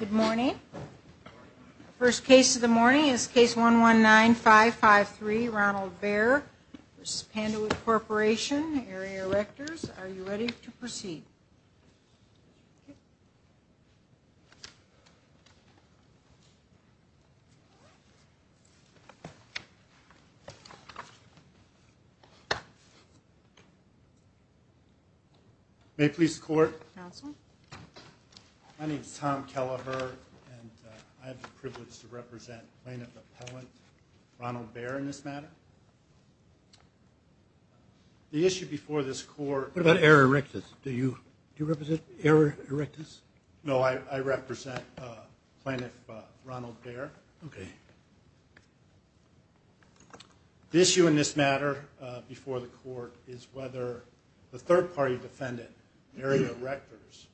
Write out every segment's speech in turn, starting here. Good morning. First case of the morning is Case 119553, Ronald Baer v. Panduit Corp., Area Erectors. Are you ready to proceed? Yes. May it please the Court? Counsel. My name is Tom Kelleher, and I have the privilege to represent plaintiff appellant Ronald Baer in this matter. The issue before this Court... What about Area Erectors? Do you represent Area Erectors? No, I represent plaintiff Ronald Baer. Okay. The issue in this matter before the Court is whether the third-party defendant, Area Erectors,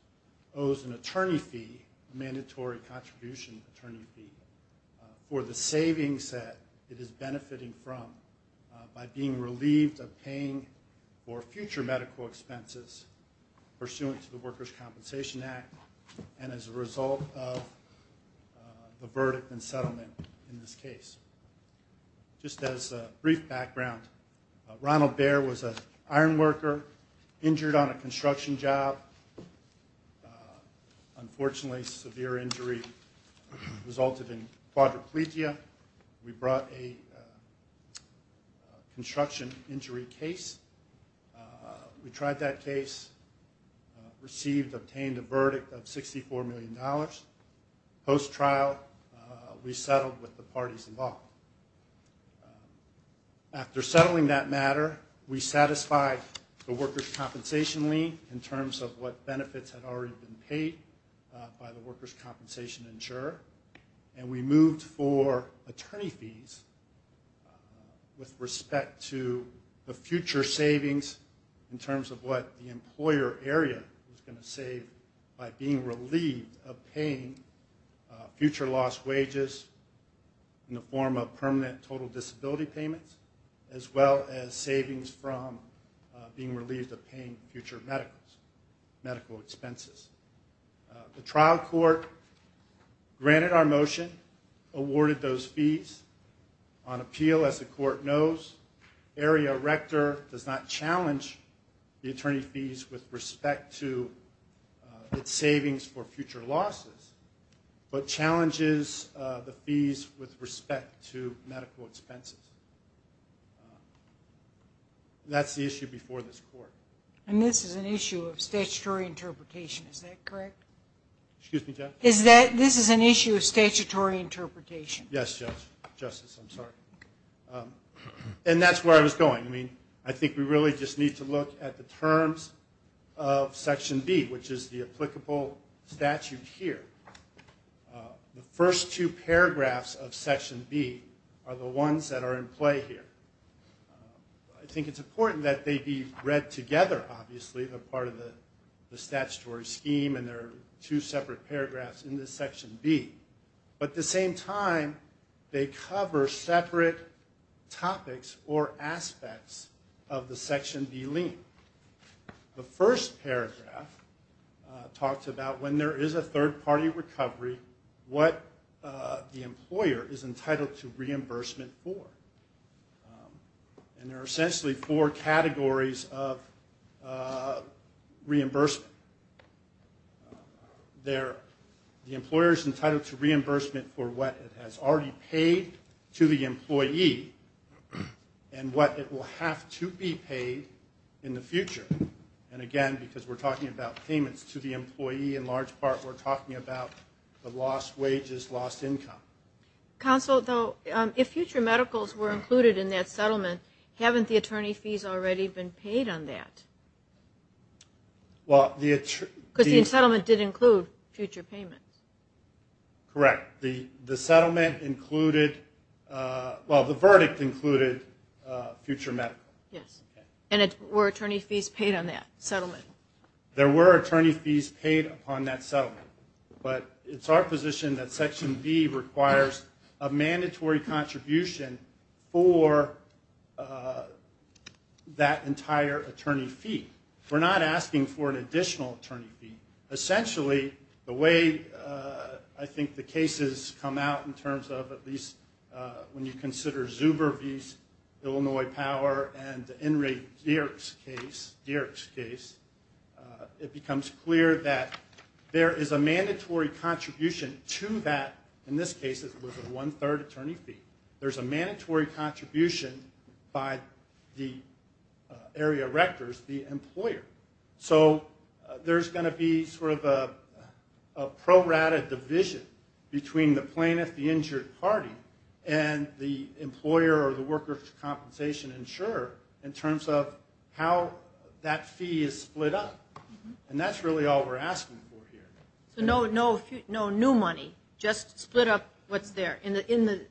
owes an attorney fee, a mandatory contribution attorney fee, for the savings that it is benefiting from by being relieved of paying for future medical expenses pursuant to the Workers' Compensation Act and as a result of the verdict and settlement in this case. Just as a brief background, Ronald Baer was an iron worker injured on a construction job. Unfortunately, severe injury resulted in quadriplegia. We brought a construction injury case. We tried that case, received, obtained a verdict of $64 million. Post-trial, we settled with the parties involved. After settling that matter, we satisfied the workers' compensation lien in terms of what benefits had already been paid by the workers' compensation insurer. We moved for attorney fees with respect to the future savings in terms of what the employer area was going to save by being relieved of paying future lost wages in the form of permanent total disability payments as well as savings from being relieved of paying future medical expenses. The trial court granted our motion, awarded those fees. On appeal, as the court knows, Area Erector does not challenge the attorney fees with respect to its savings for future losses but challenges the fees with respect to medical expenses. That's the issue before this court. And this is an issue of statutory interpretation. Is that correct? Excuse me, Judge? This is an issue of statutory interpretation. Yes, Judge. Justice, I'm sorry. And that's where I was going. I mean, I think we really just need to look at the terms of Section B, which is the applicable statute here. The first two paragraphs of Section B are the ones that are in play here. I think it's important that they be read together, obviously, as part of the statutory scheme. And there are two separate paragraphs in this Section B. But at the same time, they cover separate topics or aspects of the Section B lien. The first paragraph talks about when there is a third-party recovery, what the employer is entitled to reimbursement for. And there are essentially four categories of reimbursement. The employer is entitled to reimbursement for what it has already paid to the employee and what it will have to be paid in the future. And again, because we're talking about payments to the employee in large part, we're talking about the lost wages, lost income. Counsel, though, if future medicals were included in that settlement, haven't the attorney fees already been paid on that? Because the settlement did include future payments. Correct. The verdict included future medicals. Yes. And were attorney fees paid on that settlement? There were attorney fees paid upon that settlement. But it's our position that Section B requires a mandatory contribution for that entire attorney fee. We're not asking for an additional attorney fee. Essentially, the way I think the cases come out in terms of at least when you consider Zuber v. Illinois Power and the Enright-Dierks case, it becomes clear that there is a mandatory contribution to that. In this case, it was a one-third attorney fee. There's a mandatory contribution by the area rectors, the employer. So there's going to be sort of a prorated division between the plaintiff, the injured party, and the employer or the worker for compensation insurer in terms of how that fee is split up. And that's really all we're asking for here. So no new money, just split up what's there in the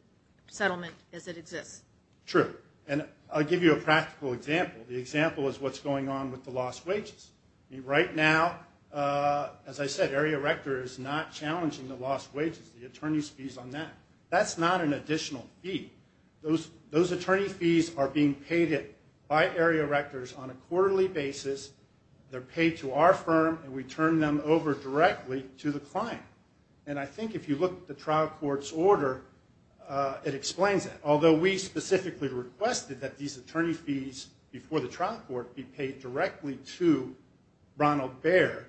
settlement as it exists. True. And I'll give you a practical example. The example is what's going on with the lost wages. Right now, as I said, area rector is not challenging the lost wages, the attorney's fees on that. That's not an additional fee. Those attorney fees are being paid by area rectors on a quarterly basis. They're paid to our firm, and we turn them over directly to the client. And I think if you look at the trial court's order, it explains that. Although we specifically requested that these attorney fees before the trial court be paid directly to Ronald Bair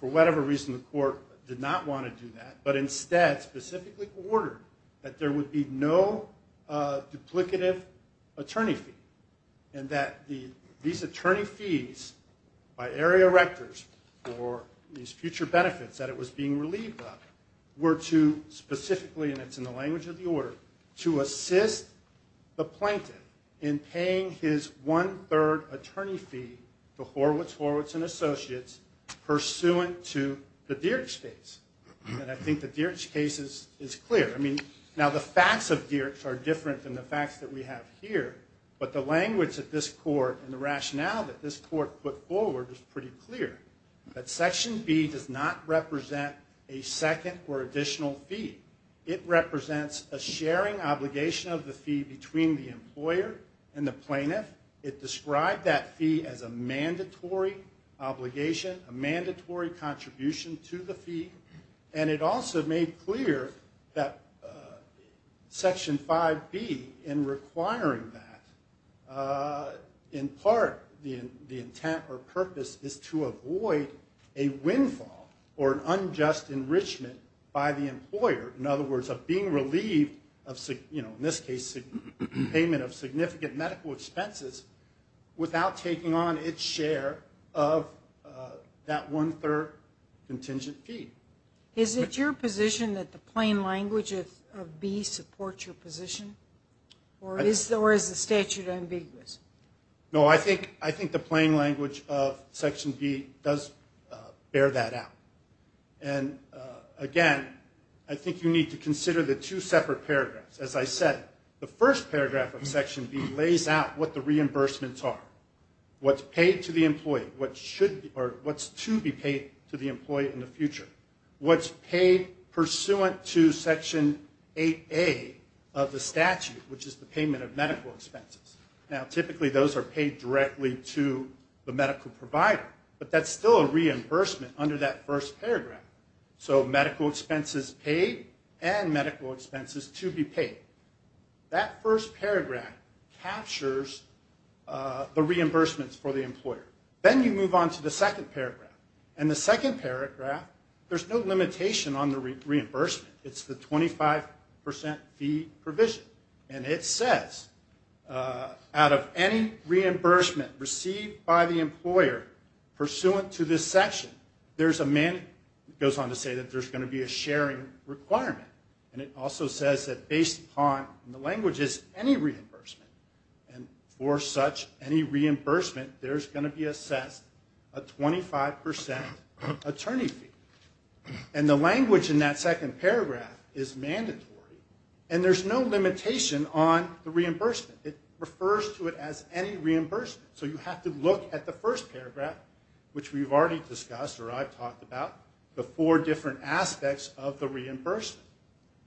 for whatever reason, the court did not want to do that, but instead specifically ordered that there would be no duplicative attorney fee and that these attorney fees by area rectors for these future benefits that it was being relieved of were to specifically, and it's in the language of the order, to assist the plaintiff in paying his one-third attorney fee to Horwitz Horwitz & Associates pursuant to the Dierks case. And I think the Dierks case is clear. I mean, now the facts of Dierks are different than the facts that we have here, but the language that this court and the rationale that this court put forward is pretty clear, that Section B does not represent a second or additional fee. It represents a sharing obligation of the fee between the employer and the plaintiff. It described that fee as a mandatory obligation, a mandatory contribution to the fee, and it also made clear that Section 5B, in requiring that, in part the intent or purpose is to avoid a windfall or an unjust enrichment by the employer, in other words, of being relieved of, in this case, payment of significant medical expenses without taking on its share of that one-third contingent fee. Is it your position that the plain language of B supports your position, or is the statute ambiguous? No, I think the plain language of Section B does bear that out. And, again, I think you need to consider the two separate paragraphs. As I said, the first paragraph of Section B lays out what the reimbursements are, what's paid to the employee, what's to be paid to the employee in the future, what's paid pursuant to Section 8A of the statute, which is the payment of medical expenses. Now, typically, those are paid directly to the medical provider, but that's still a reimbursement under that first paragraph. So medical expenses paid and medical expenses to be paid. That first paragraph captures the reimbursements for the employer. Then you move on to the second paragraph. In the second paragraph, there's no limitation on the reimbursement. It's the 25 percent fee provision. And it says, out of any reimbursement received by the employer pursuant to this section, it goes on to say that there's going to be a sharing requirement. And it also says that based upon, and the language is any reimbursement, and for such any reimbursement, there's going to be assessed a 25 percent attorney fee. And the language in that second paragraph is mandatory, and there's no limitation on the reimbursement. It refers to it as any reimbursement. So you have to look at the first paragraph, which we've already discussed, or I've talked about, the four different aspects of the reimbursement.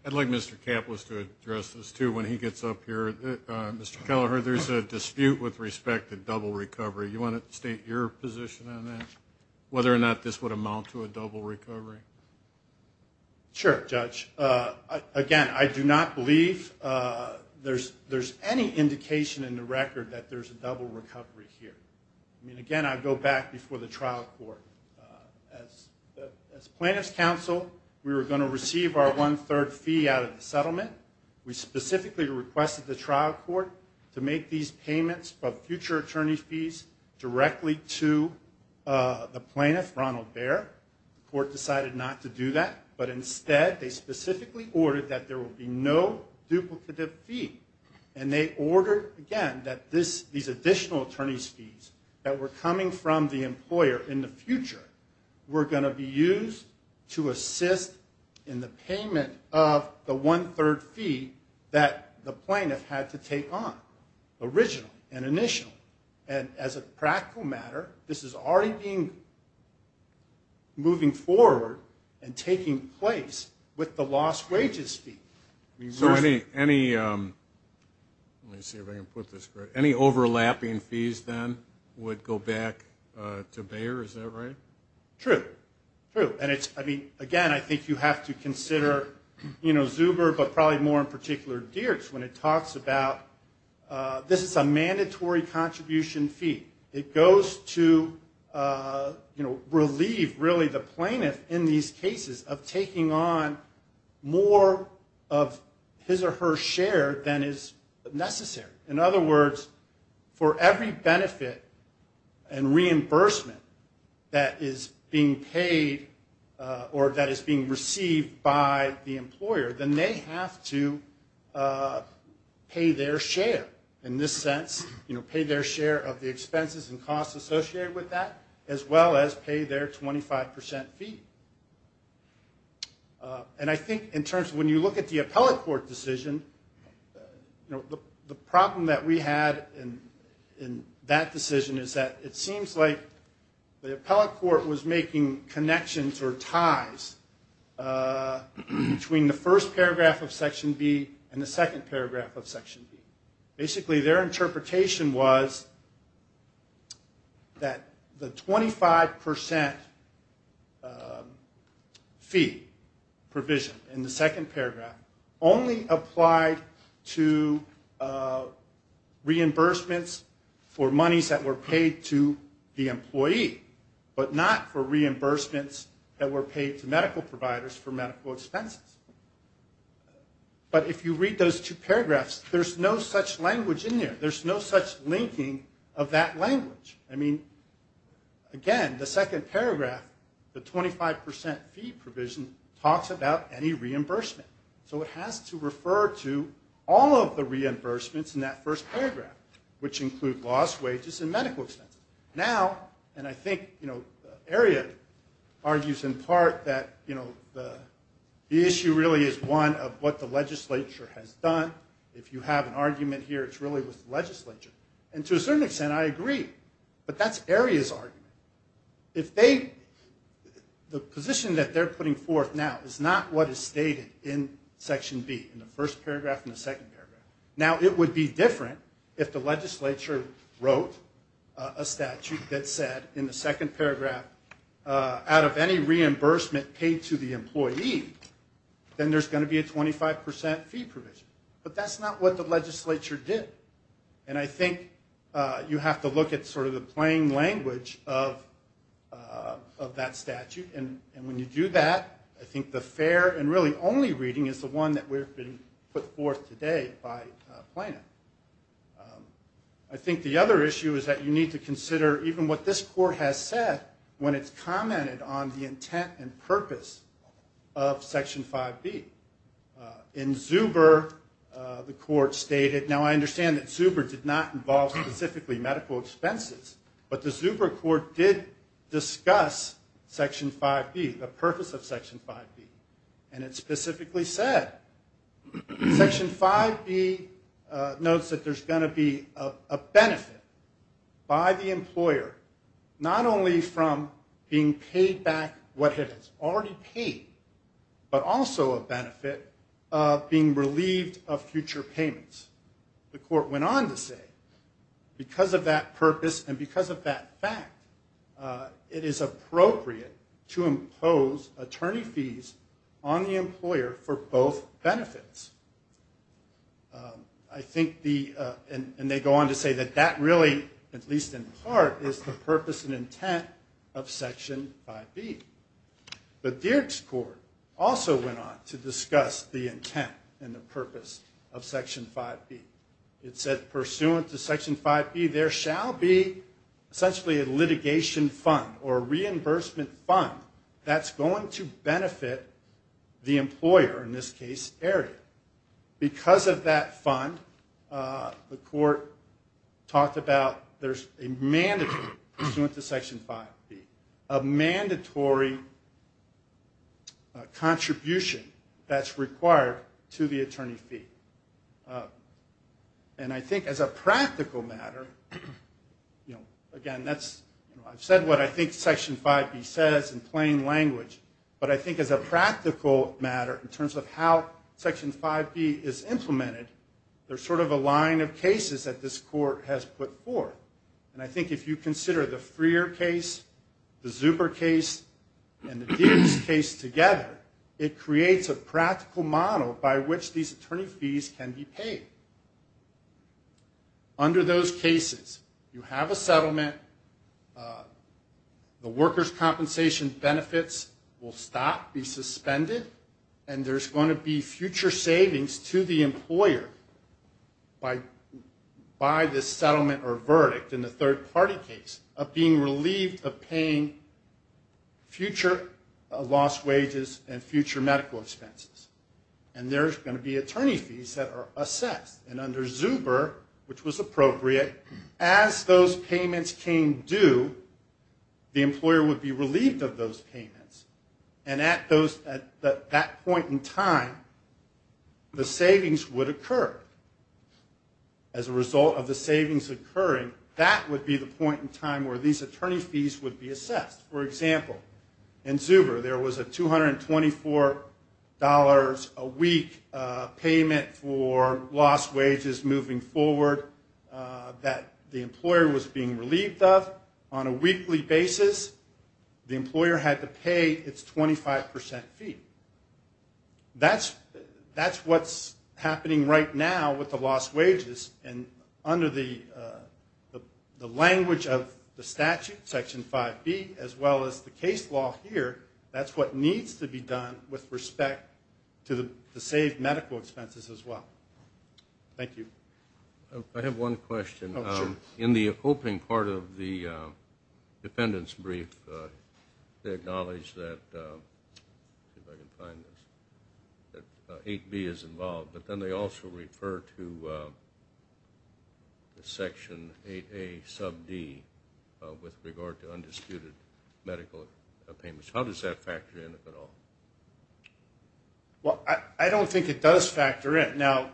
I'd like Mr. Kaplitz to address this, too, when he gets up here. Mr. Kelleher, there's a dispute with respect to double recovery. You want to state your position on that, whether or not this would amount to a double recovery? Sure, Judge. Again, I do not believe there's any indication in the record that there's a double recovery here. I mean, again, I go back before the trial court. As plaintiff's counsel, we were going to receive our one-third fee out of the settlement. We specifically requested the trial court to make these payments of future attorney fees directly to the plaintiff, Ronald Bear. The court decided not to do that. But instead, they specifically ordered that there would be no duplicative fee. And they ordered, again, that these additional attorney's fees that were coming from the employer in the future were going to be used to assist in the payment of the one-third fee that the plaintiff had to take on, original and initial. And as a practical matter, this is already moving forward and taking place with the lost wages fee. So any overlapping fees, then, would go back to Bear? Is that right? True. True. And, again, I think you have to consider Zuber, but probably more in particular Dirks, when it talks about this is a mandatory contribution fee. It goes to relieve, really, the plaintiff in these cases of taking on more of his or her share than is necessary. In other words, for every benefit and reimbursement that is being paid or that is being received by the employer, then they have to pay their share. In this sense, pay their share of the expenses and costs associated with that, as well as pay their 25% fee. And I think in terms of when you look at the appellate court decision, the problem that we had in that decision is that it seems like the appellate court was making connections or ties between the first paragraph of Section B and the second paragraph of Section B. Basically, their interpretation was that the 25% fee provision in the second paragraph only applied to reimbursements for monies that were paid to the employee, but not for reimbursements that were paid to medical providers for medical expenses. But if you read those two paragraphs, there's no such language in there. There's no such linking of that language. I mean, again, the second paragraph, the 25% fee provision, talks about any reimbursement. So it has to refer to all of the reimbursements in that first paragraph, which include lost wages and medical expenses. Now, and I think, you know, Aria argues in part that, you know, the issue really is one of what the legislature has done. If you have an argument here, it's really with the legislature. And to a certain extent, I agree. But that's Aria's argument. If they, the position that they're putting forth now is not what is stated in Section B, in the first paragraph and the second paragraph. Now, it would be different if the legislature wrote a statute that said in the second paragraph, out of any reimbursement paid to the employee, then there's going to be a 25% fee provision. But that's not what the legislature did. And I think you have to look at sort of the plain language of that statute. And when you do that, I think the fair and really only reading is the one that we've been put forth today by Plano. I think the other issue is that you need to consider even what this court has said when it's commented on the intent and purpose of Section 5B. In Zuber, the court stated, now I understand that Zuber did not involve specifically medical expenses, but the Zuber court did discuss Section 5B, the purpose of Section 5B. And it specifically said, Section 5B notes that there's going to be a benefit by the employer, not only from being paid back what it has already paid, but also a benefit of being relieved of future payments. The court went on to say, because of that purpose and because of that fact, it is appropriate to impose attorney fees on the employer for both benefits. I think the, and they go on to say that that really, at least in part, is the purpose and intent of Section 5B. But Dierks Court also went on to discuss the intent and the purpose of Section 5B. It said, pursuant to Section 5B, there shall be essentially a litigation fund or reimbursement fund that's going to benefit the employer, in this case, Aria. Because of that fund, the court talked about there's a mandatory, pursuant to Section 5B, a mandatory contribution that's required to the attorney fee. And I think as a practical matter, you know, again, that's, you know, what I think Section 5B says in plain language. But I think as a practical matter, in terms of how Section 5B is implemented, there's sort of a line of cases that this court has put forth. And I think if you consider the Freer case, the Zuber case, and the Dierks case together, it creates a practical model by which these attorney fees can be paid. Under those cases, you have a settlement, the workers' compensation benefits will stop, be suspended, and there's going to be future savings to the employer by the settlement or verdict in the third-party case of being relieved of paying future lost wages and future medical expenses. And there's going to be attorney fees that are assessed. And under Zuber, which was appropriate, as those payments came due, the employer would be relieved of those payments. And at that point in time, the savings would occur. As a result of the savings occurring, that would be the point in time where these attorney fees would be assessed. For example, in Zuber, there was a $224 a week payment for lost wages moving forward that the employer was being relieved of. On a weekly basis, the employer had to pay its 25% fee. That's what's happening right now with the lost wages. And under the language of the statute, Section 5B, as well as the case law here, that's what needs to be done with respect to the saved medical expenses as well. Thank you. I have one question. Oh, sure. In the opening part of the dependents' brief, they acknowledge that 8B is involved, but then they also refer to Section 8A sub D with regard to undisputed medical payments. How does that factor in at all? Well, I don't think it does factor in. Now,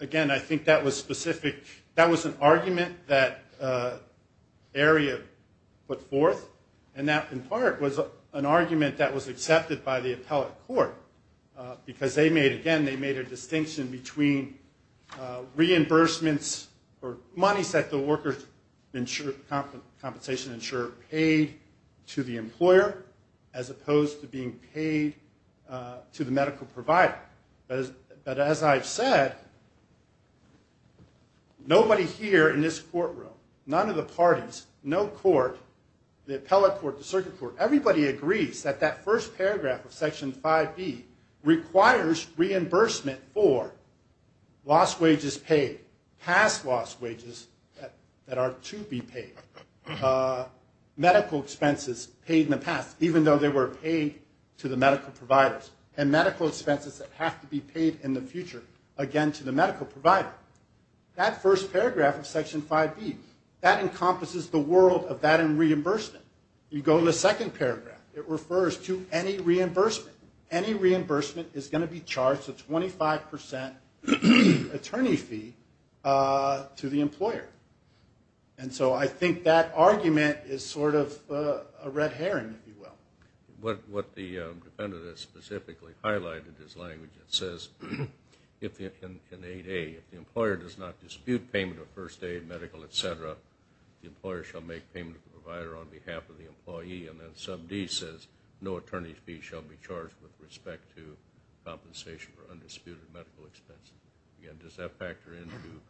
again, I think that was specific. That was an argument that area put forth, and that, in part, was an argument that was accepted by the appellate court because, again, they made a distinction between reimbursements or money that the workers' compensation insurer paid to the employer as opposed to being paid to the medical provider. But as I've said, nobody here in this courtroom, none of the parties, no court, the appellate court, the circuit court, everybody agrees that that first paragraph of Section 5B requires reimbursement for lost wages paid, past lost wages that are to be paid, medical expenses paid in the past, even though they were paid to the medical providers, and medical expenses that have to be paid in the future, again, to the medical provider. That first paragraph of Section 5B, that encompasses the world of that and reimbursement. You go to the second paragraph. It refers to any reimbursement. Any reimbursement is going to be charged a 25% attorney fee to the employer. And so I think that argument is sort of a red herring, if you will. What the defendant has specifically highlighted is language that says, in 8A, if the employer does not dispute payment of first aid, medical, et cetera, the employer shall make payment to the provider on behalf of the employee. And then Sub D says no attorney fee shall be charged with respect to compensation for undisputed medical expenses. Again, does that factor into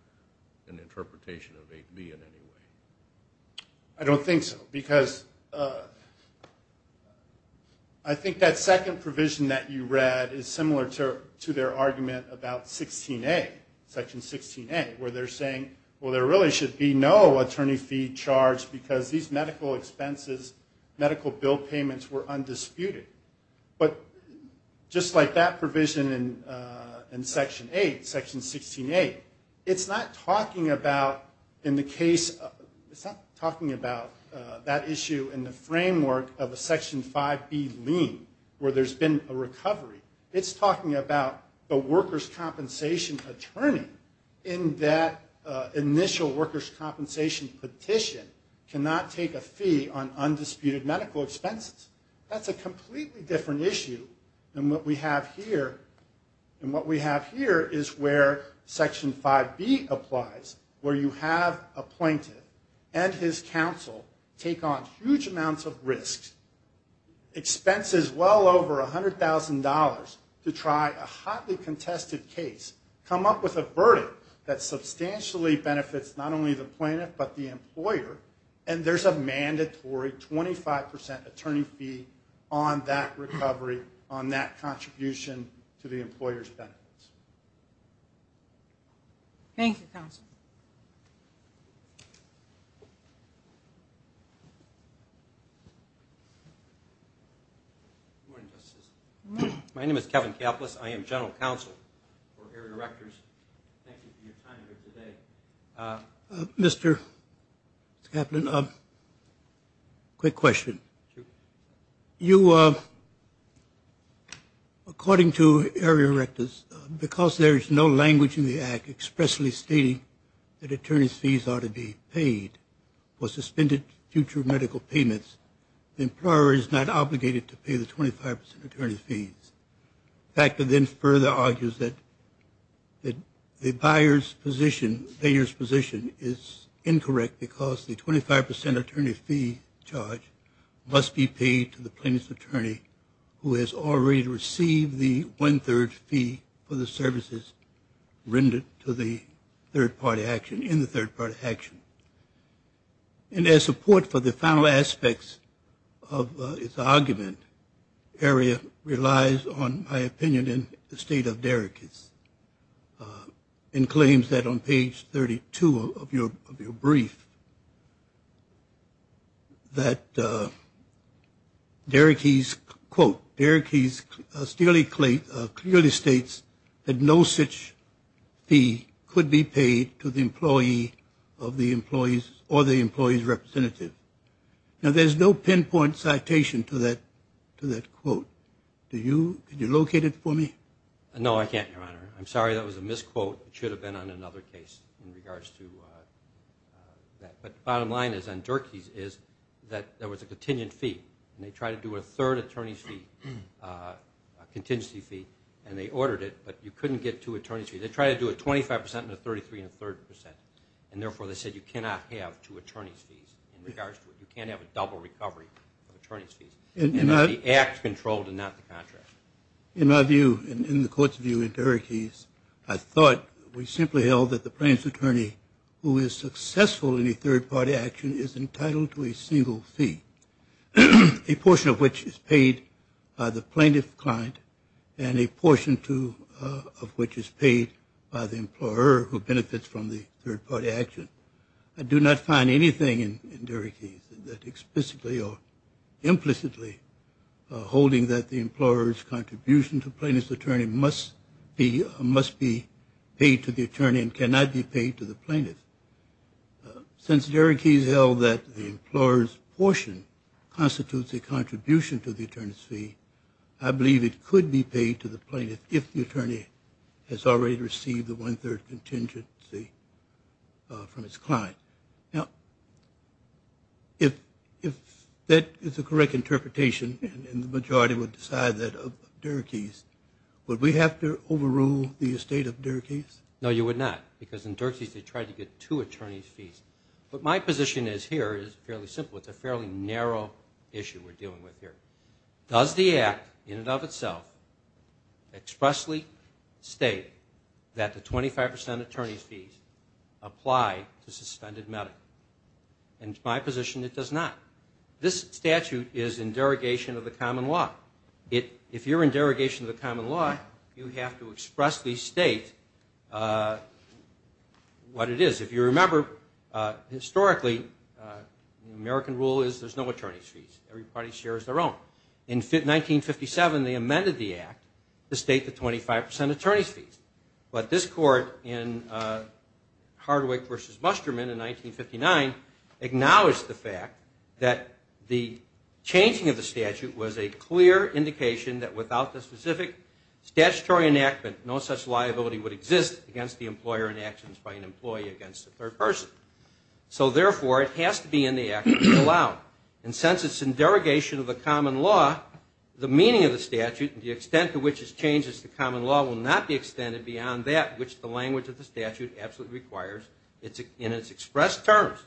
an interpretation of 8B in any way? I don't think so because I think that second provision that you read is similar to their argument about 16A, Section 16A, where they're saying, well, there really should be no attorney fee charged because these medical expenses, medical bill payments were undisputed. But just like that provision in Section 8, Section 16A, it's not talking about, in the case of, it's not talking about that issue in the framework of a Section 5B lien where there's been a recovery. It's talking about the workers' compensation attorney in that initial workers' compensation petition cannot take a fee on undisputed medical expenses. That's a completely different issue than what we have here. And what we have here is where Section 5B applies, where you have a plaintiff and his counsel take on huge amounts of risk, expenses well over $100,000 to try a hotly contested case, come up with a verdict that substantially benefits not only the plaintiff but the employer, and there's a mandatory 25% attorney fee on that recovery, on that contribution to the employer's benefits. Thank you, Counsel. Good morning, Justices. My name is Kevin Kaplis. I am General Counsel for Area Erectors. Thank you for your time here today. Mr. Kaplan, quick question. You, according to Area Erectors, because there is no language in the Act expressly stating that attorney's fees ought to be paid for suspended future medical payments, the employer is not obligated to pay the 25% attorney's fees. The factor then further argues that the buyer's position, the payer's position is incorrect because the 25% attorney fee charge must be paid to the plaintiff's attorney who has already received the one-third fee for the services rendered to the third-party action in the third-party action. And as support for the final aspects of its argument, area relies on, in my opinion, the state of Derricks and claims that on page 32 of your brief that Derricks, quote, Derricks clearly states that no such fee could be paid to the employee of the employee's or the employee's representative. Now, there's no pinpoint citation to that quote. Do you locate it for me? No, I can't, Your Honor. I'm sorry. That was a misquote. It should have been on another case in regards to that. But the bottom line is on Durkee's is that there was a contingent fee, and they tried to do a third attorney's fee, a contingency fee, and they ordered it, but you couldn't get two attorney's fees. They tried to do a 25 percent and a 33 and a third percent, and therefore they said you cannot have two attorney's fees in regards to it. You can't have a double recovery of attorney's fees. And the act controlled and not the contract. In my view, in the court's view, in Derrick's, I thought we simply held that the plaintiff's attorney who is successful in a third-party action is entitled to a single fee, a portion of which is paid by the plaintiff's client and a portion of which is paid by the employer who benefits from the third-party action. I do not find anything in Derrick's that explicitly or implicitly holding that the employer's contribution to plaintiff's attorney must be paid to the attorney and cannot be paid to the plaintiff. Since Derrick's held that the employer's portion constitutes a contribution to the attorney's fee, I believe it could be paid to the plaintiff if the attorney has already received the one-third contingency from his client. Now, if that is the correct interpretation and the majority would decide that of Derrick's, would we have to overrule the estate of Derrick's? No, you would not, because in Derrick's they tried to get two attorney's fees. But my position is here is fairly simple. It's a fairly narrow issue we're dealing with here. Does the Act in and of itself expressly state that the 25 percent attorney's fees apply to suspended medical? In my position, it does not. This statute is in derogation of the common law. If you're in derogation of the common law, you have to expressly state what it is. If you remember, historically the American rule is there's no attorney's fees. Every party shares their own. In 1957, they amended the Act to state the 25 percent attorney's fees. But this court in Hardwick v. Musterman in 1959 acknowledged the fact that the changing of the statute was a clear indication that without the specific statutory enactment, no such liability would exist against the employer in actions by an employee against a third person. So therefore, it has to be in the Act to allow. And since it's in derogation of the common law, the meaning of the statute and the extent to which it changes the common law will not be extended beyond that which the language of the statute absolutely requires in its expressed terms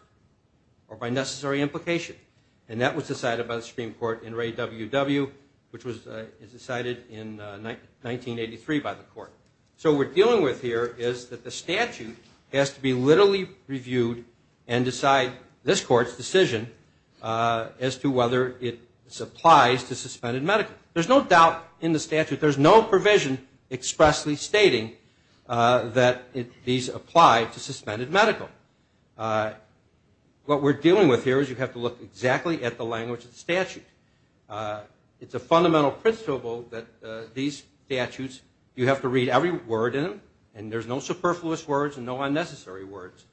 or by necessary implication. And that was decided by the Supreme Court in Ray W. W., which was decided in 1983 by the court. So what we're dealing with here is that the statute has to be literally reviewed and decide this court's decision as to whether it applies to suspended medical. There's no doubt in the statute. There's no provision expressly stating that these apply to suspended medical. What we're dealing with here is you have to look exactly at the language of the statute. It's a fundamental principle that these statutes, you have to read every word in them, and there's no superfluous words and no unnecessary words.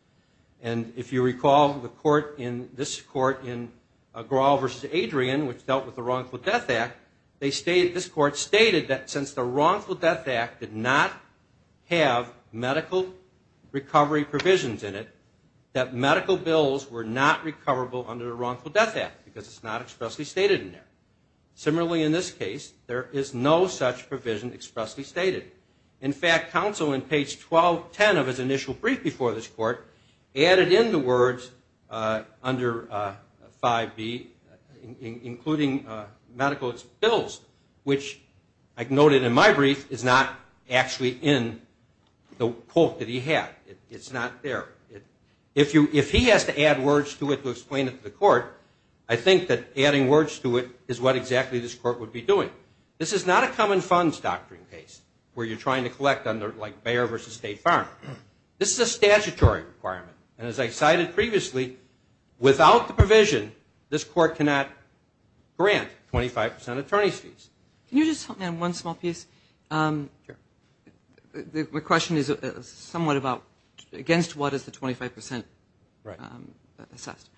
And if you recall the court in this court in Grohl v. Adrian, which dealt with the Wrongful Death Act, this court stated that since the Wrongful Death Act did not have medical recovery provisions in it, that medical bills were not recoverable under the Wrongful Death Act because it's not expressly stated in there. Similarly, in this case, there is no such provision expressly stated. In fact, counsel in page 1210 of his initial brief before this court added in the words under 5B, including medical bills, which I noted in my brief, is not actually in the quote that he had. It's not there. If he has to add words to it to explain it to the court, I think that adding words to it is what exactly this court would be doing. This is not a common funds doctrine case where you're trying to collect under like Bayer v. State Farm. This is a statutory requirement. And as I cited previously, without the provision, this court cannot grant 25 percent attorney's fees. Can you just tell me on one small piece? Sure. My question is somewhat about against what is the 25 percent assessed.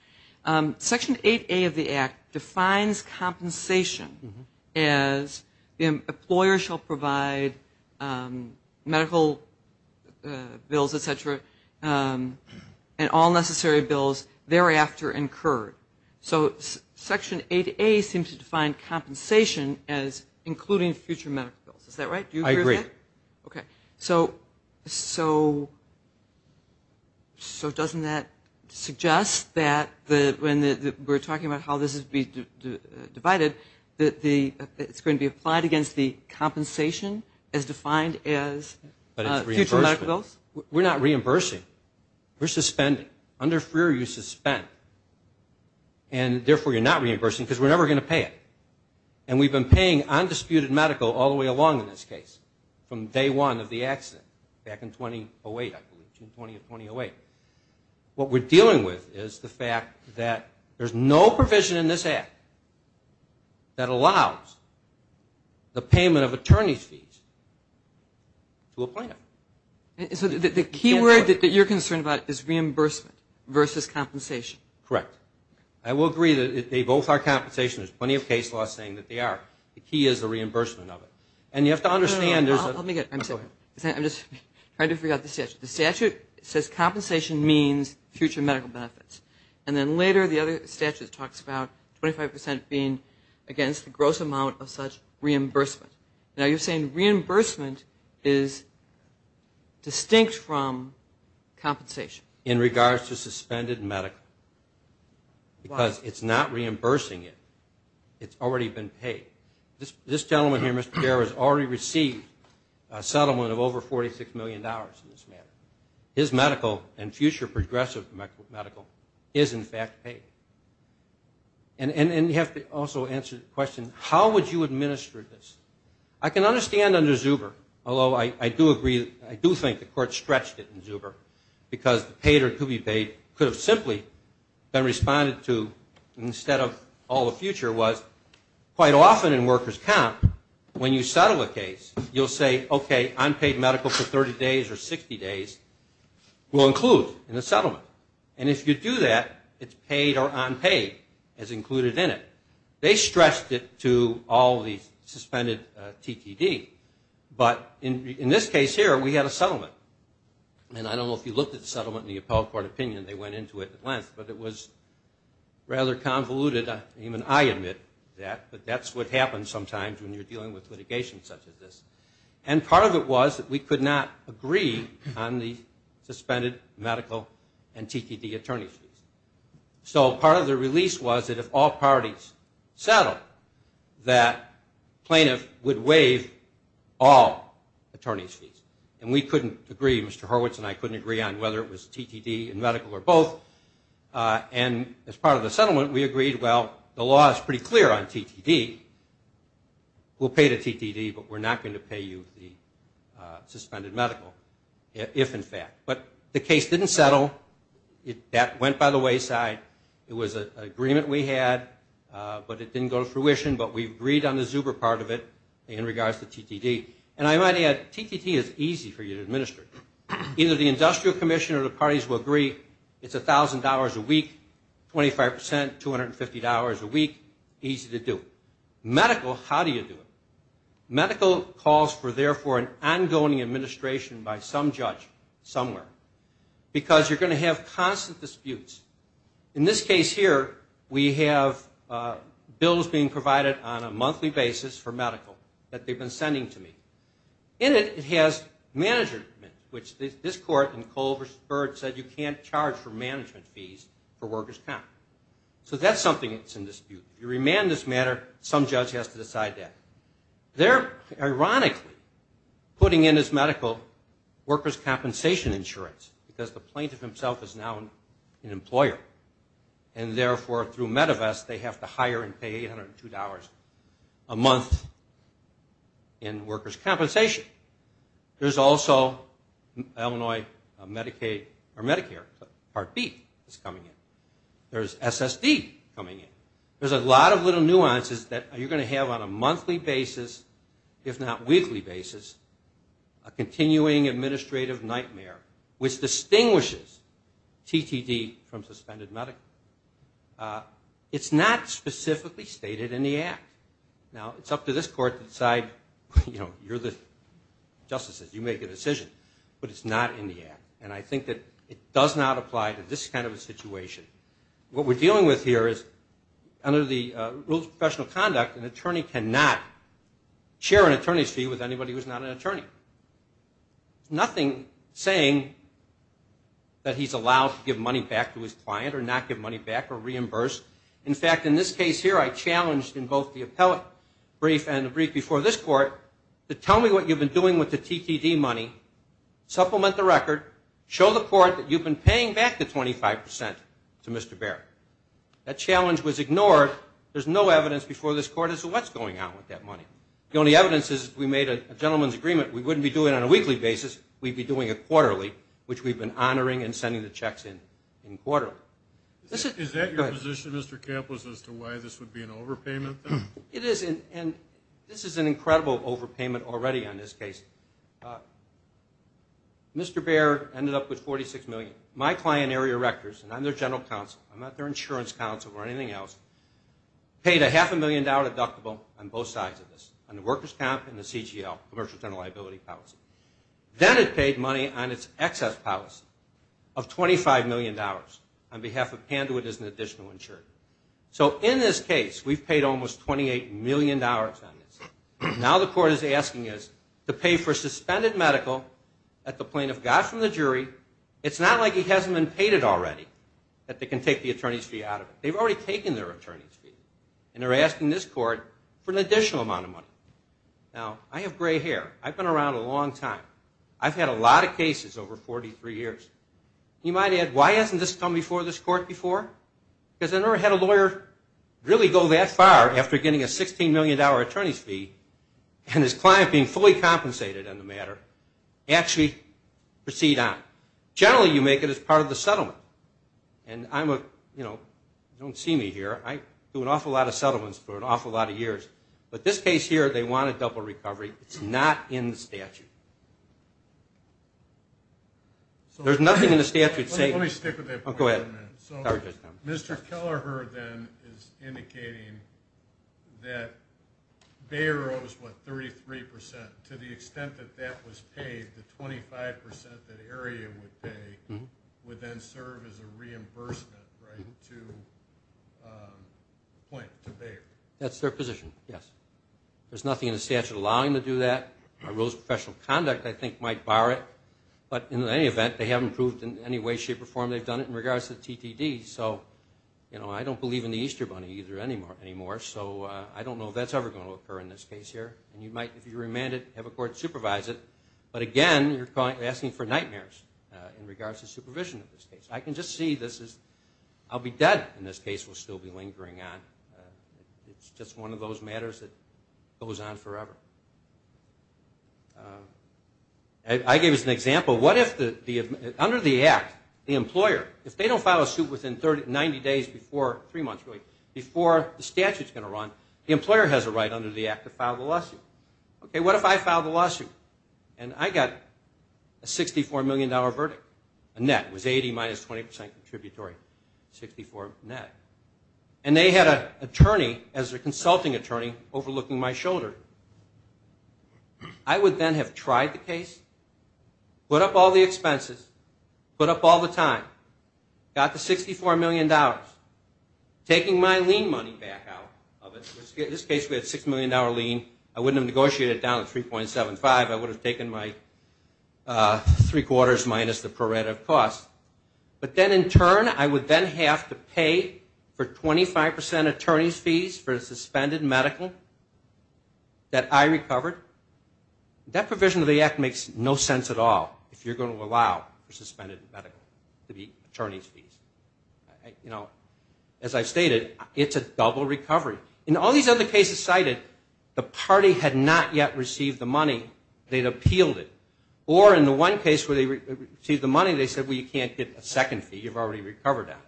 Section 8A of the Act defines compensation as the employer shall provide medical bills, et cetera, and all necessary bills thereafter incurred. So Section 8A seems to define compensation as including future medical bills. Is that right? I agree. Okay. So doesn't that suggest that when we're talking about how this is to be divided, that it's going to be applied against the compensation as defined as future medical bills? We're not reimbursing. We're suspending. Under Freer, you suspend. And therefore, you're not reimbursing because we're never going to pay it. And we've been paying undisputed medical all the way along in this case, from day one of the accident, back in 2008, I believe, June 20 of 2008. What we're dealing with is the fact that there's no provision in this Act that allows the payment of attorney's fees to a plaintiff. So the key word that you're concerned about is reimbursement versus compensation. Correct. I will agree that they both are compensation. There's plenty of case law saying that they are. The key is the reimbursement of it. And you have to understand there's a – No, no, no. Let me get it. I'm sorry. Go ahead. I'm just trying to figure out the statute. The statute says compensation means future medical benefits. And then later, the other statute talks about 25% being against the gross amount of such reimbursement. Now, you're saying reimbursement is distinct from compensation. In regards to suspended medical. Why? Because it's not reimbursing it. It's already been paid. This gentleman here, Mr. Pierre, has already received a settlement of over $46 million in this matter. His medical and future progressive medical is, in fact, paid. And you have to also answer the question, how would you administer this? I can understand under Zuber, although I do agree – I do think the court stretched it in Zuber because the paid or to be paid could have simply been responded to instead of all the future was quite often in workers' comp, when you settle a case, you'll say, okay, unpaid medical for 30 days or 60 days will include in the settlement. And if you do that, it's paid or unpaid as included in it. They stressed it to all the suspended TTD. But in this case here, we had a settlement. And I don't know if you looked at the settlement in the appellate court opinion. They went into it at length. But it was rather convoluted. Even I admit that. But that's what happens sometimes when you're dealing with litigation such as this. And part of it was that we could not agree on the suspended medical and TTD attorney's fees. So part of the release was that if all parties settled, that plaintiff would waive all attorney's fees. And we couldn't agree, Mr. Horwitz and I couldn't agree on whether it was TTD and medical or both. And as part of the settlement, we agreed, well, the law is pretty clear on TTD. We'll pay the TTD, but we're not going to pay you the suspended medical, if in fact. But the case didn't settle. That went by the wayside. It was an agreement we had, but it didn't go to fruition. But we agreed on the Zuber part of it in regards to TTD. And I might add, TTT is easy for you to administer. Either the industrial commission or the parties will agree it's $1,000 a week, 25%, $250 a week, easy to do. Medical, how do you do it? Medical calls for, therefore, an ongoing administration by some judge somewhere. Because you're going to have constant disputes. In this case here, we have bills being provided on a monthly basis for medical that they've been sending to me. In it, it has management, which this court in Colbert said you can't charge for management fees for workers' comp. So that's something that's in dispute. If you remand this matter, some judge has to decide that. They're ironically putting in as medical workers' compensation insurance because the plaintiff himself is now an employer. And therefore, through MEDEVAS, they have to hire and pay $802 a month in workers' compensation. There's also Illinois Medicare Part B that's coming in. There's SSD coming in. There's a lot of little nuances that you're going to have on a monthly basis, if not weekly basis, a continuing administrative nightmare which distinguishes TTD from suspended medical. It's not specifically stated in the act. Now, it's up to this court to decide, you know, you're the justices, you make the decision. But it's not in the act. And I think that it does not apply to this kind of a situation. What we're dealing with here is under the Rules of Professional Conduct, an attorney cannot share an attorney's fee with anybody who's not an attorney. Nothing saying that he's allowed to give money back to his client or not give money back or reimburse. In fact, in this case here, I challenged in both the appellate brief and the brief before this court to tell me what you've been doing with the TTD money, supplement the record, show the court that you've been paying back the 25 percent to Mr. Baer. That challenge was ignored. There's no evidence before this court as to what's going on with that money. The only evidence is we made a gentleman's agreement. We wouldn't be doing it on a weekly basis. We'd be doing it quarterly, which we've been honoring and sending the checks in quarterly. Is that your position, Mr. Campos, as to why this would be an overpayment? It is. And this is an incredible overpayment already on this case. Mr. Baer ended up with $46 million. My client, Area Rectors, and I'm their general counsel, I'm not their insurance counsel or anything else, paid a half-a-million-dollar deductible on both sides of this, on the workers' comp and the CGL, commercial general liability policy. Then it paid money on its excess policy of $25 million on behalf of Panduit as an additional insurer. So in this case, we've paid almost $28 million on this. Now the court is asking us to pay for suspended medical at the plaintiff got from the jury. It's not like he hasn't been paid it already, that they can take the attorney's fee out of it. They've already taken their attorney's fee, and they're asking this court for an additional amount of money. Now, I have gray hair. I've been around a long time. I've had a lot of cases over 43 years. You might add, why hasn't this come before this court before? Because I've never had a lawyer really go that far after getting a $16 million attorney's fee and his client being fully compensated on the matter, actually proceed on. Generally, you make it as part of the settlement. And I'm a, you know, you don't see me here. I do an awful lot of settlements for an awful lot of years. But this case here, they want a double recovery. It's not in the statute. There's nothing in the statute saying. Let me stick with that point for a minute. Go ahead. Mr. Kelleher then is indicating that Bayer owes, what, 33%. To the extent that that was paid, the 25% that area would pay would then serve as a reimbursement, right, to Bayer. That's their position, yes. There's nothing in the statute allowing them to do that. Our rules of professional conduct, I think, might bar it. But in any event, they haven't proved in any way, shape, or form they've done it in regards to the TTD. So, you know, I don't believe in the Easter Bunny either anymore. So I don't know if that's ever going to occur in this case here. And you might, if you remand it, have a court supervise it. But, again, you're asking for nightmares in regards to supervision of this case. I can just see this as I'll be dead in this case. We'll still be lingering on. It's just one of those matters that goes on forever. I gave as an example, what if under the Act, the employer, if they don't file a suit within 90 days before, three months really, before the statute's going to run, the employer has a right under the Act to file the lawsuit. Okay, what if I file the lawsuit and I got a $64 million verdict? A net, it was 80 minus 20% contributory, 64 net. And they had an attorney, as a consulting attorney, overlooking my shoulder. I would then have tried the case, put up all the expenses, put up all the time, got the $64 million, taking my lien money back out of it. In this case, we had a $6 million lien. I wouldn't have negotiated it down to 3.75. I would have taken my three quarters minus the pro rata cost. But then in turn, I would then have to pay for 25% attorney's fees for a suspended medical that I recovered. That provision of the Act makes no sense at all if you're going to allow for suspended medical to be attorney's fees. You know, as I stated, it's a double recovery. In all these other cases cited, the party had not yet received the money. They'd appealed it. Or in the one case where they received the money, they said, well, you can't get a second fee. You've already recovered that.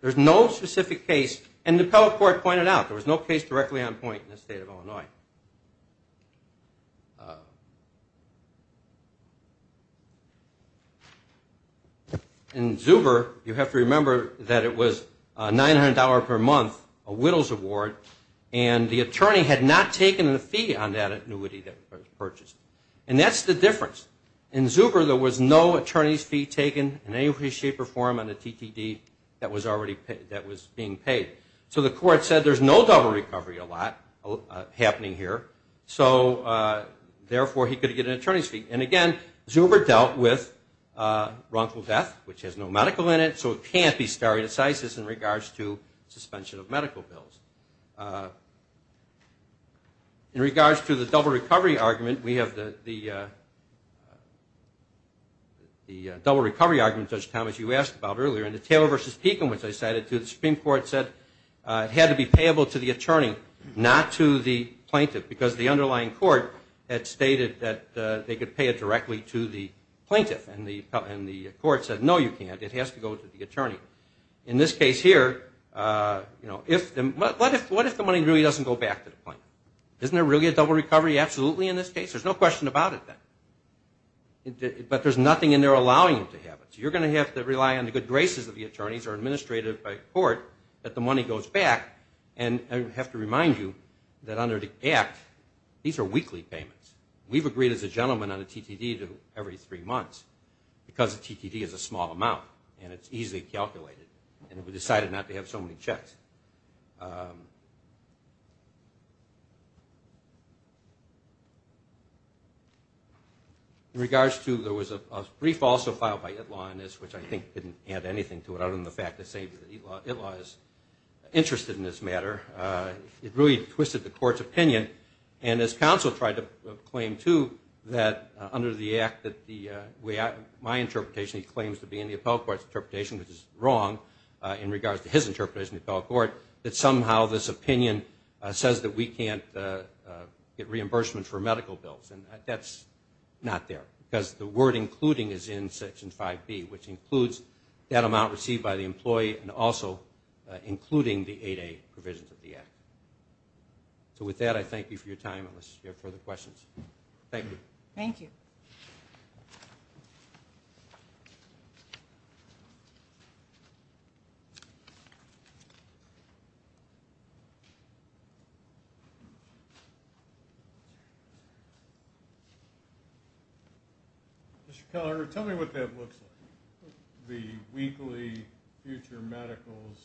There's no specific case, and the appellate court pointed out, there was no case directly on point in the state of Illinois. In Zuber, you have to remember that it was $900 per month, a Whittles Award, and the attorney had not taken the fee on that annuity that was purchased. And that's the difference. In Zuber, there was no attorney's fee taken in any way, shape, or form on the TTD that was being paid. So the court said there's no double recovery a lot happening here, so therefore he could get an attorney's fee. And again, Zuber dealt with wrongful death, which has no medical in it, so it can't be stare decisis in regards to suspension of medical bills. In regards to the double recovery argument, we have the double recovery argument, Judge Thomas, you asked about earlier, and the Taylor v. Pekin, which I cited, the Supreme Court said it had to be payable to the attorney, not to the plaintiff, because the underlying court had stated that they could pay it directly to the plaintiff. And the court said, no, you can't. It has to go to the attorney. In this case here, what if the money really doesn't go back to the plaintiff? Isn't there really a double recovery absolutely in this case? There's no question about it then. But there's nothing in there allowing him to have it. So you're going to have to rely on the good graces of the attorneys or administrative court that the money goes back. And I have to remind you that under the Act, these are weekly payments. We've agreed as a gentleman on the TTD to every three months, because the TTD is a small amount and it's easily calculated, and we decided not to have so many checks. In regards to there was a brief also filed by ITLA on this, which I think didn't add anything to it other than the fact that ITLA is interested in this matter. It really twisted the court's opinion. And this counsel tried to claim, too, that under the Act, my interpretation he claims to be in the appellate court's interpretation, which is wrong in regards to his interpretation of the appellate court, that somehow this opinion says that we can't get reimbursement for medical bills. And that's not there, because the word including is in Section 5B, which includes that amount received by the employee and also including the 8A provisions of the Act. So with that, I thank you for your time unless you have further questions. Thank you. Thank you. Mr. Keller, tell me what that looks like. The weekly future medicals,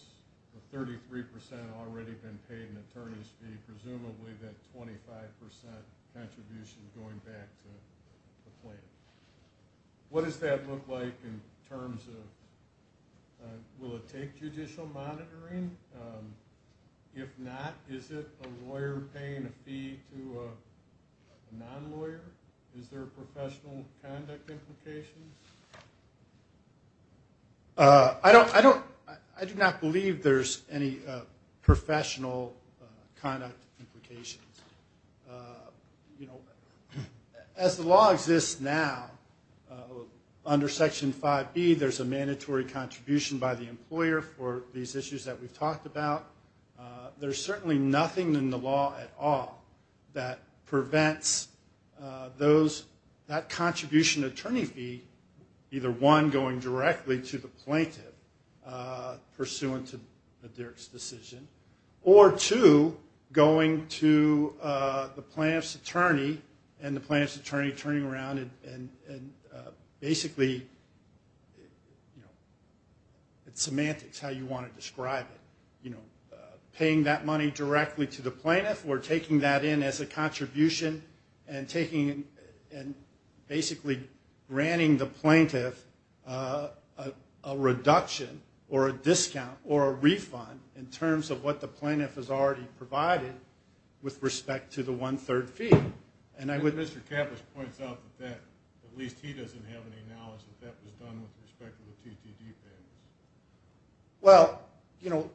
33% already been paid an attorney's fee, presumably that 25% contribution going back to the plan. What does that look like in terms of will it take judicial monitoring? If not, is it a lawyer paying a fee to a non-lawyer? Is there professional conduct implications? I do not believe there's any professional conduct implications. As the law exists now, under Section 5B, there's a mandatory contribution by the employer for these issues that we've talked about. There's certainly nothing in the law at all that prevents that contribution attorney fee, either one, going directly to the plaintiff pursuant to the Dirk's decision, or two, going to the plaintiff's attorney and the plaintiff's attorney turning around and basically it's semantics how you want to describe it. Paying that money directly to the plaintiff or taking that in as a contribution and basically granting the plaintiff a reduction or a discount or a refund in terms of what the plaintiff has already provided with respect to the one-third fee. Mr. Kavish points out that at least he doesn't have any knowledge that that was done with respect to the TTD payments. Well, you know,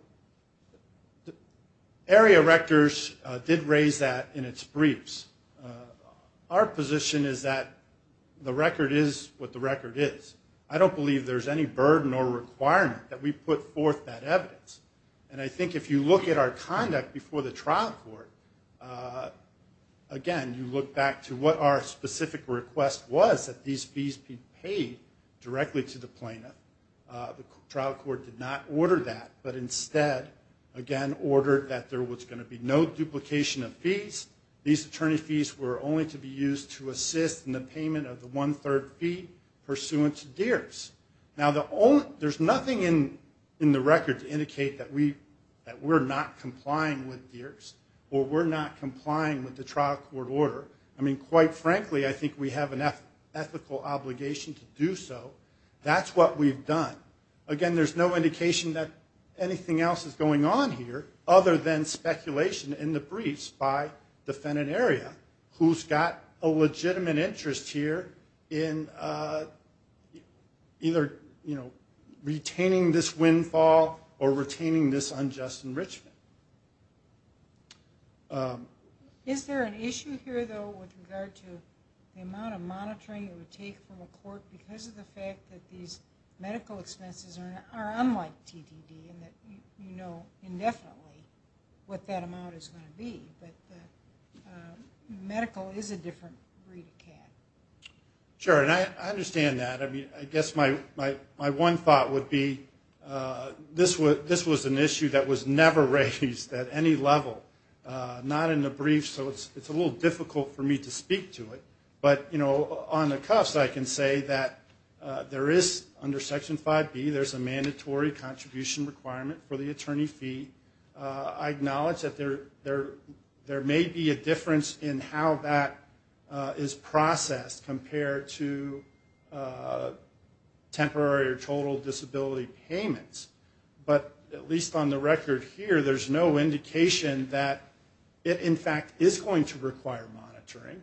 Area Rectors did raise that in its briefs. Our position is that the record is what the record is. I don't believe there's any burden or requirement that we put forth that evidence. And I think if you look at our conduct before the trial court, again, you look back to what our specific request was that these fees be paid directly to the plaintiff. The trial court did not order that, but instead, again, ordered that there was going to be no duplication of fees. These attorney fees were only to be used to assist in the payment of the one-third fee pursuant to Dirk's. Now, there's nothing in the record to indicate that we're not complying with Dirk's or we're not complying with the trial court order. I mean, quite frankly, I think we have an ethical obligation to do so. That's what we've done. Again, there's no indication that anything else is going on here other than speculation in the briefs by defendant area, who's got a legitimate interest here in either, you know, retaining this windfall or retaining this unjust enrichment. Is there an issue here, though, with regard to the amount of monitoring it would take from a court because of the fact that these medical expenses are unlike TDD and that you know indefinitely what that amount is going to be? But the medical is a different breed of cat. Sure, and I understand that. I mean, I guess my one thought would be this was an issue that was never raised at any level, not in the briefs, so it's a little difficult for me to speak to it. But, you know, on the cuffs, I can say that there is, under Section 5B, there's a mandatory contribution requirement for the attorney fee. I acknowledge that there may be a difference in how that is processed compared to temporary or total disability payments, but at least on the record here, there's no indication that it, in fact, is going to require monitoring.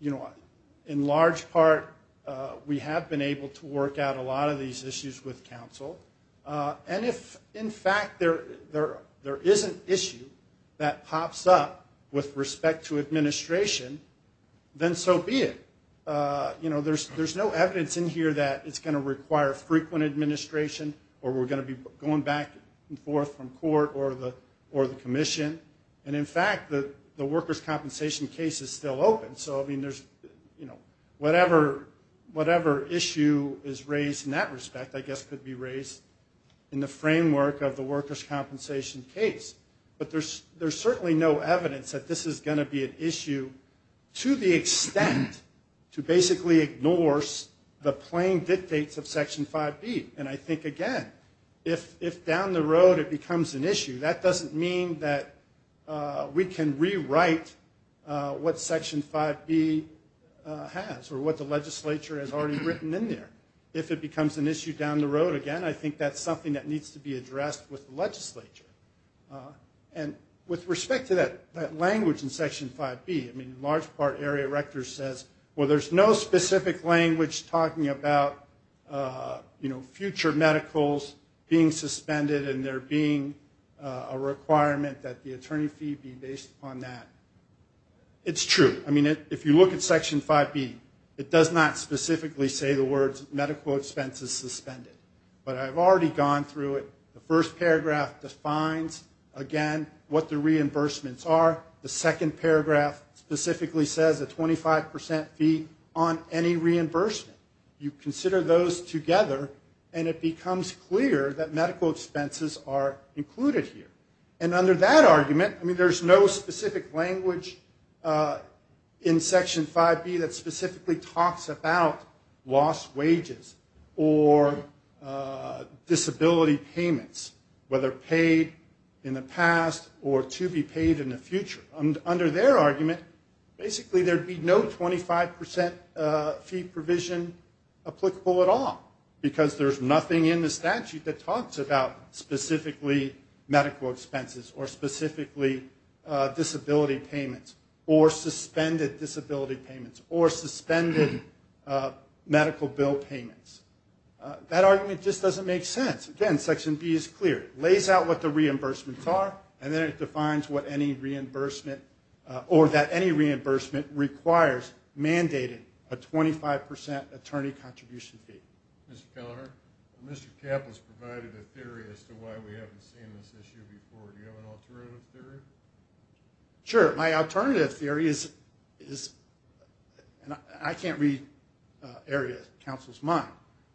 You know, in large part, we have been able to work out a lot of these issues with counsel. And if, in fact, there is an issue that pops up with respect to administration, then so be it. You know, there's no evidence in here that it's going to require frequent administration or we're going to be going back and forth from court or the commission. And, in fact, the workers' compensation case is still open. So, I mean, there's, you know, whatever issue is raised in that respect, I guess, could be raised in the framework of the workers' compensation case. But there's certainly no evidence that this is going to be an issue to the extent to basically ignore the plain dictates of Section 5B. And I think, again, if down the road it becomes an issue, that doesn't mean that we can rewrite what Section 5B has or what the legislature has already written in there. If it becomes an issue down the road, again, I think that's something that needs to be addressed with the legislature. And with respect to that language in Section 5B, I mean, in large part, Area Rector says, well, there's no specific language talking about, you know, future medicals being suspended and there being a requirement that the attorney fee be based on that. It's true. I mean, if you look at Section 5B, it does not specifically say the words medical expenses suspended. But I've already gone through it. The first paragraph defines, again, what the reimbursements are. The second paragraph specifically says a 25% fee on any reimbursement. You consider those together and it becomes clear that medical expenses are included here. And under that argument, I mean, there's no specific language in Section 5B that specifically talks about lost wages or disability payments, whether paid in the past or to be paid in the future. Under their argument, basically there'd be no 25% fee provision applicable at all, because there's nothing in the statute that talks about specifically medical expenses or specifically disability payments or suspended disability payments or suspended medical bill payments. That argument just doesn't make sense. Again, Section B is clear. It lays out what the reimbursements are, and then it defines what any reimbursement or that any reimbursement requires mandating a 25% attorney contribution fee. Mr. Kelleher, Mr. Kapp has provided a theory as to why we haven't seen this issue before. Do you have an alternative theory? Sure. My alternative theory is, and I can't read areas of counsel's mind,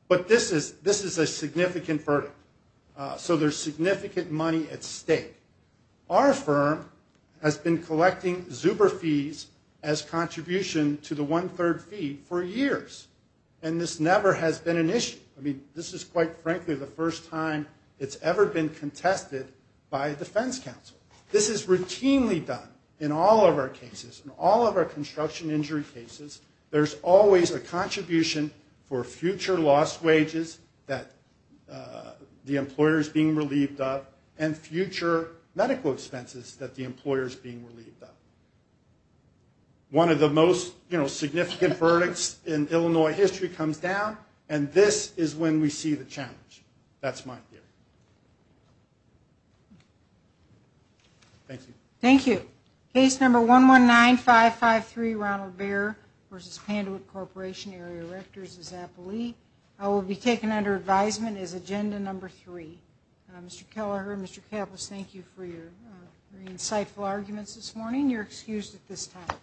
but this is a significant verdict. So there's significant money at stake. Our firm has been collecting Zuber fees as contribution to the one-third fee for years, and this never has been an issue. I mean, this is quite frankly the first time it's ever been contested by a defense counsel. This is routinely done in all of our cases, in all of our construction injury cases. There's always a contribution for future lost wages that the employer is being relieved of and future medical expenses that the employer is being relieved of. One of the most significant verdicts in Illinois history comes down, and this is when we see the challenge. That's my theory. Thank you. Thank you. Case number 119553, Ronald Baer v. Pandewitt Corporation, Area Rectors of Zappalee, will be taken under advisement as agenda number three. Mr. Kelleher, Mr. Kapp, let's thank you for your very insightful arguments this morning. You're excused at this time.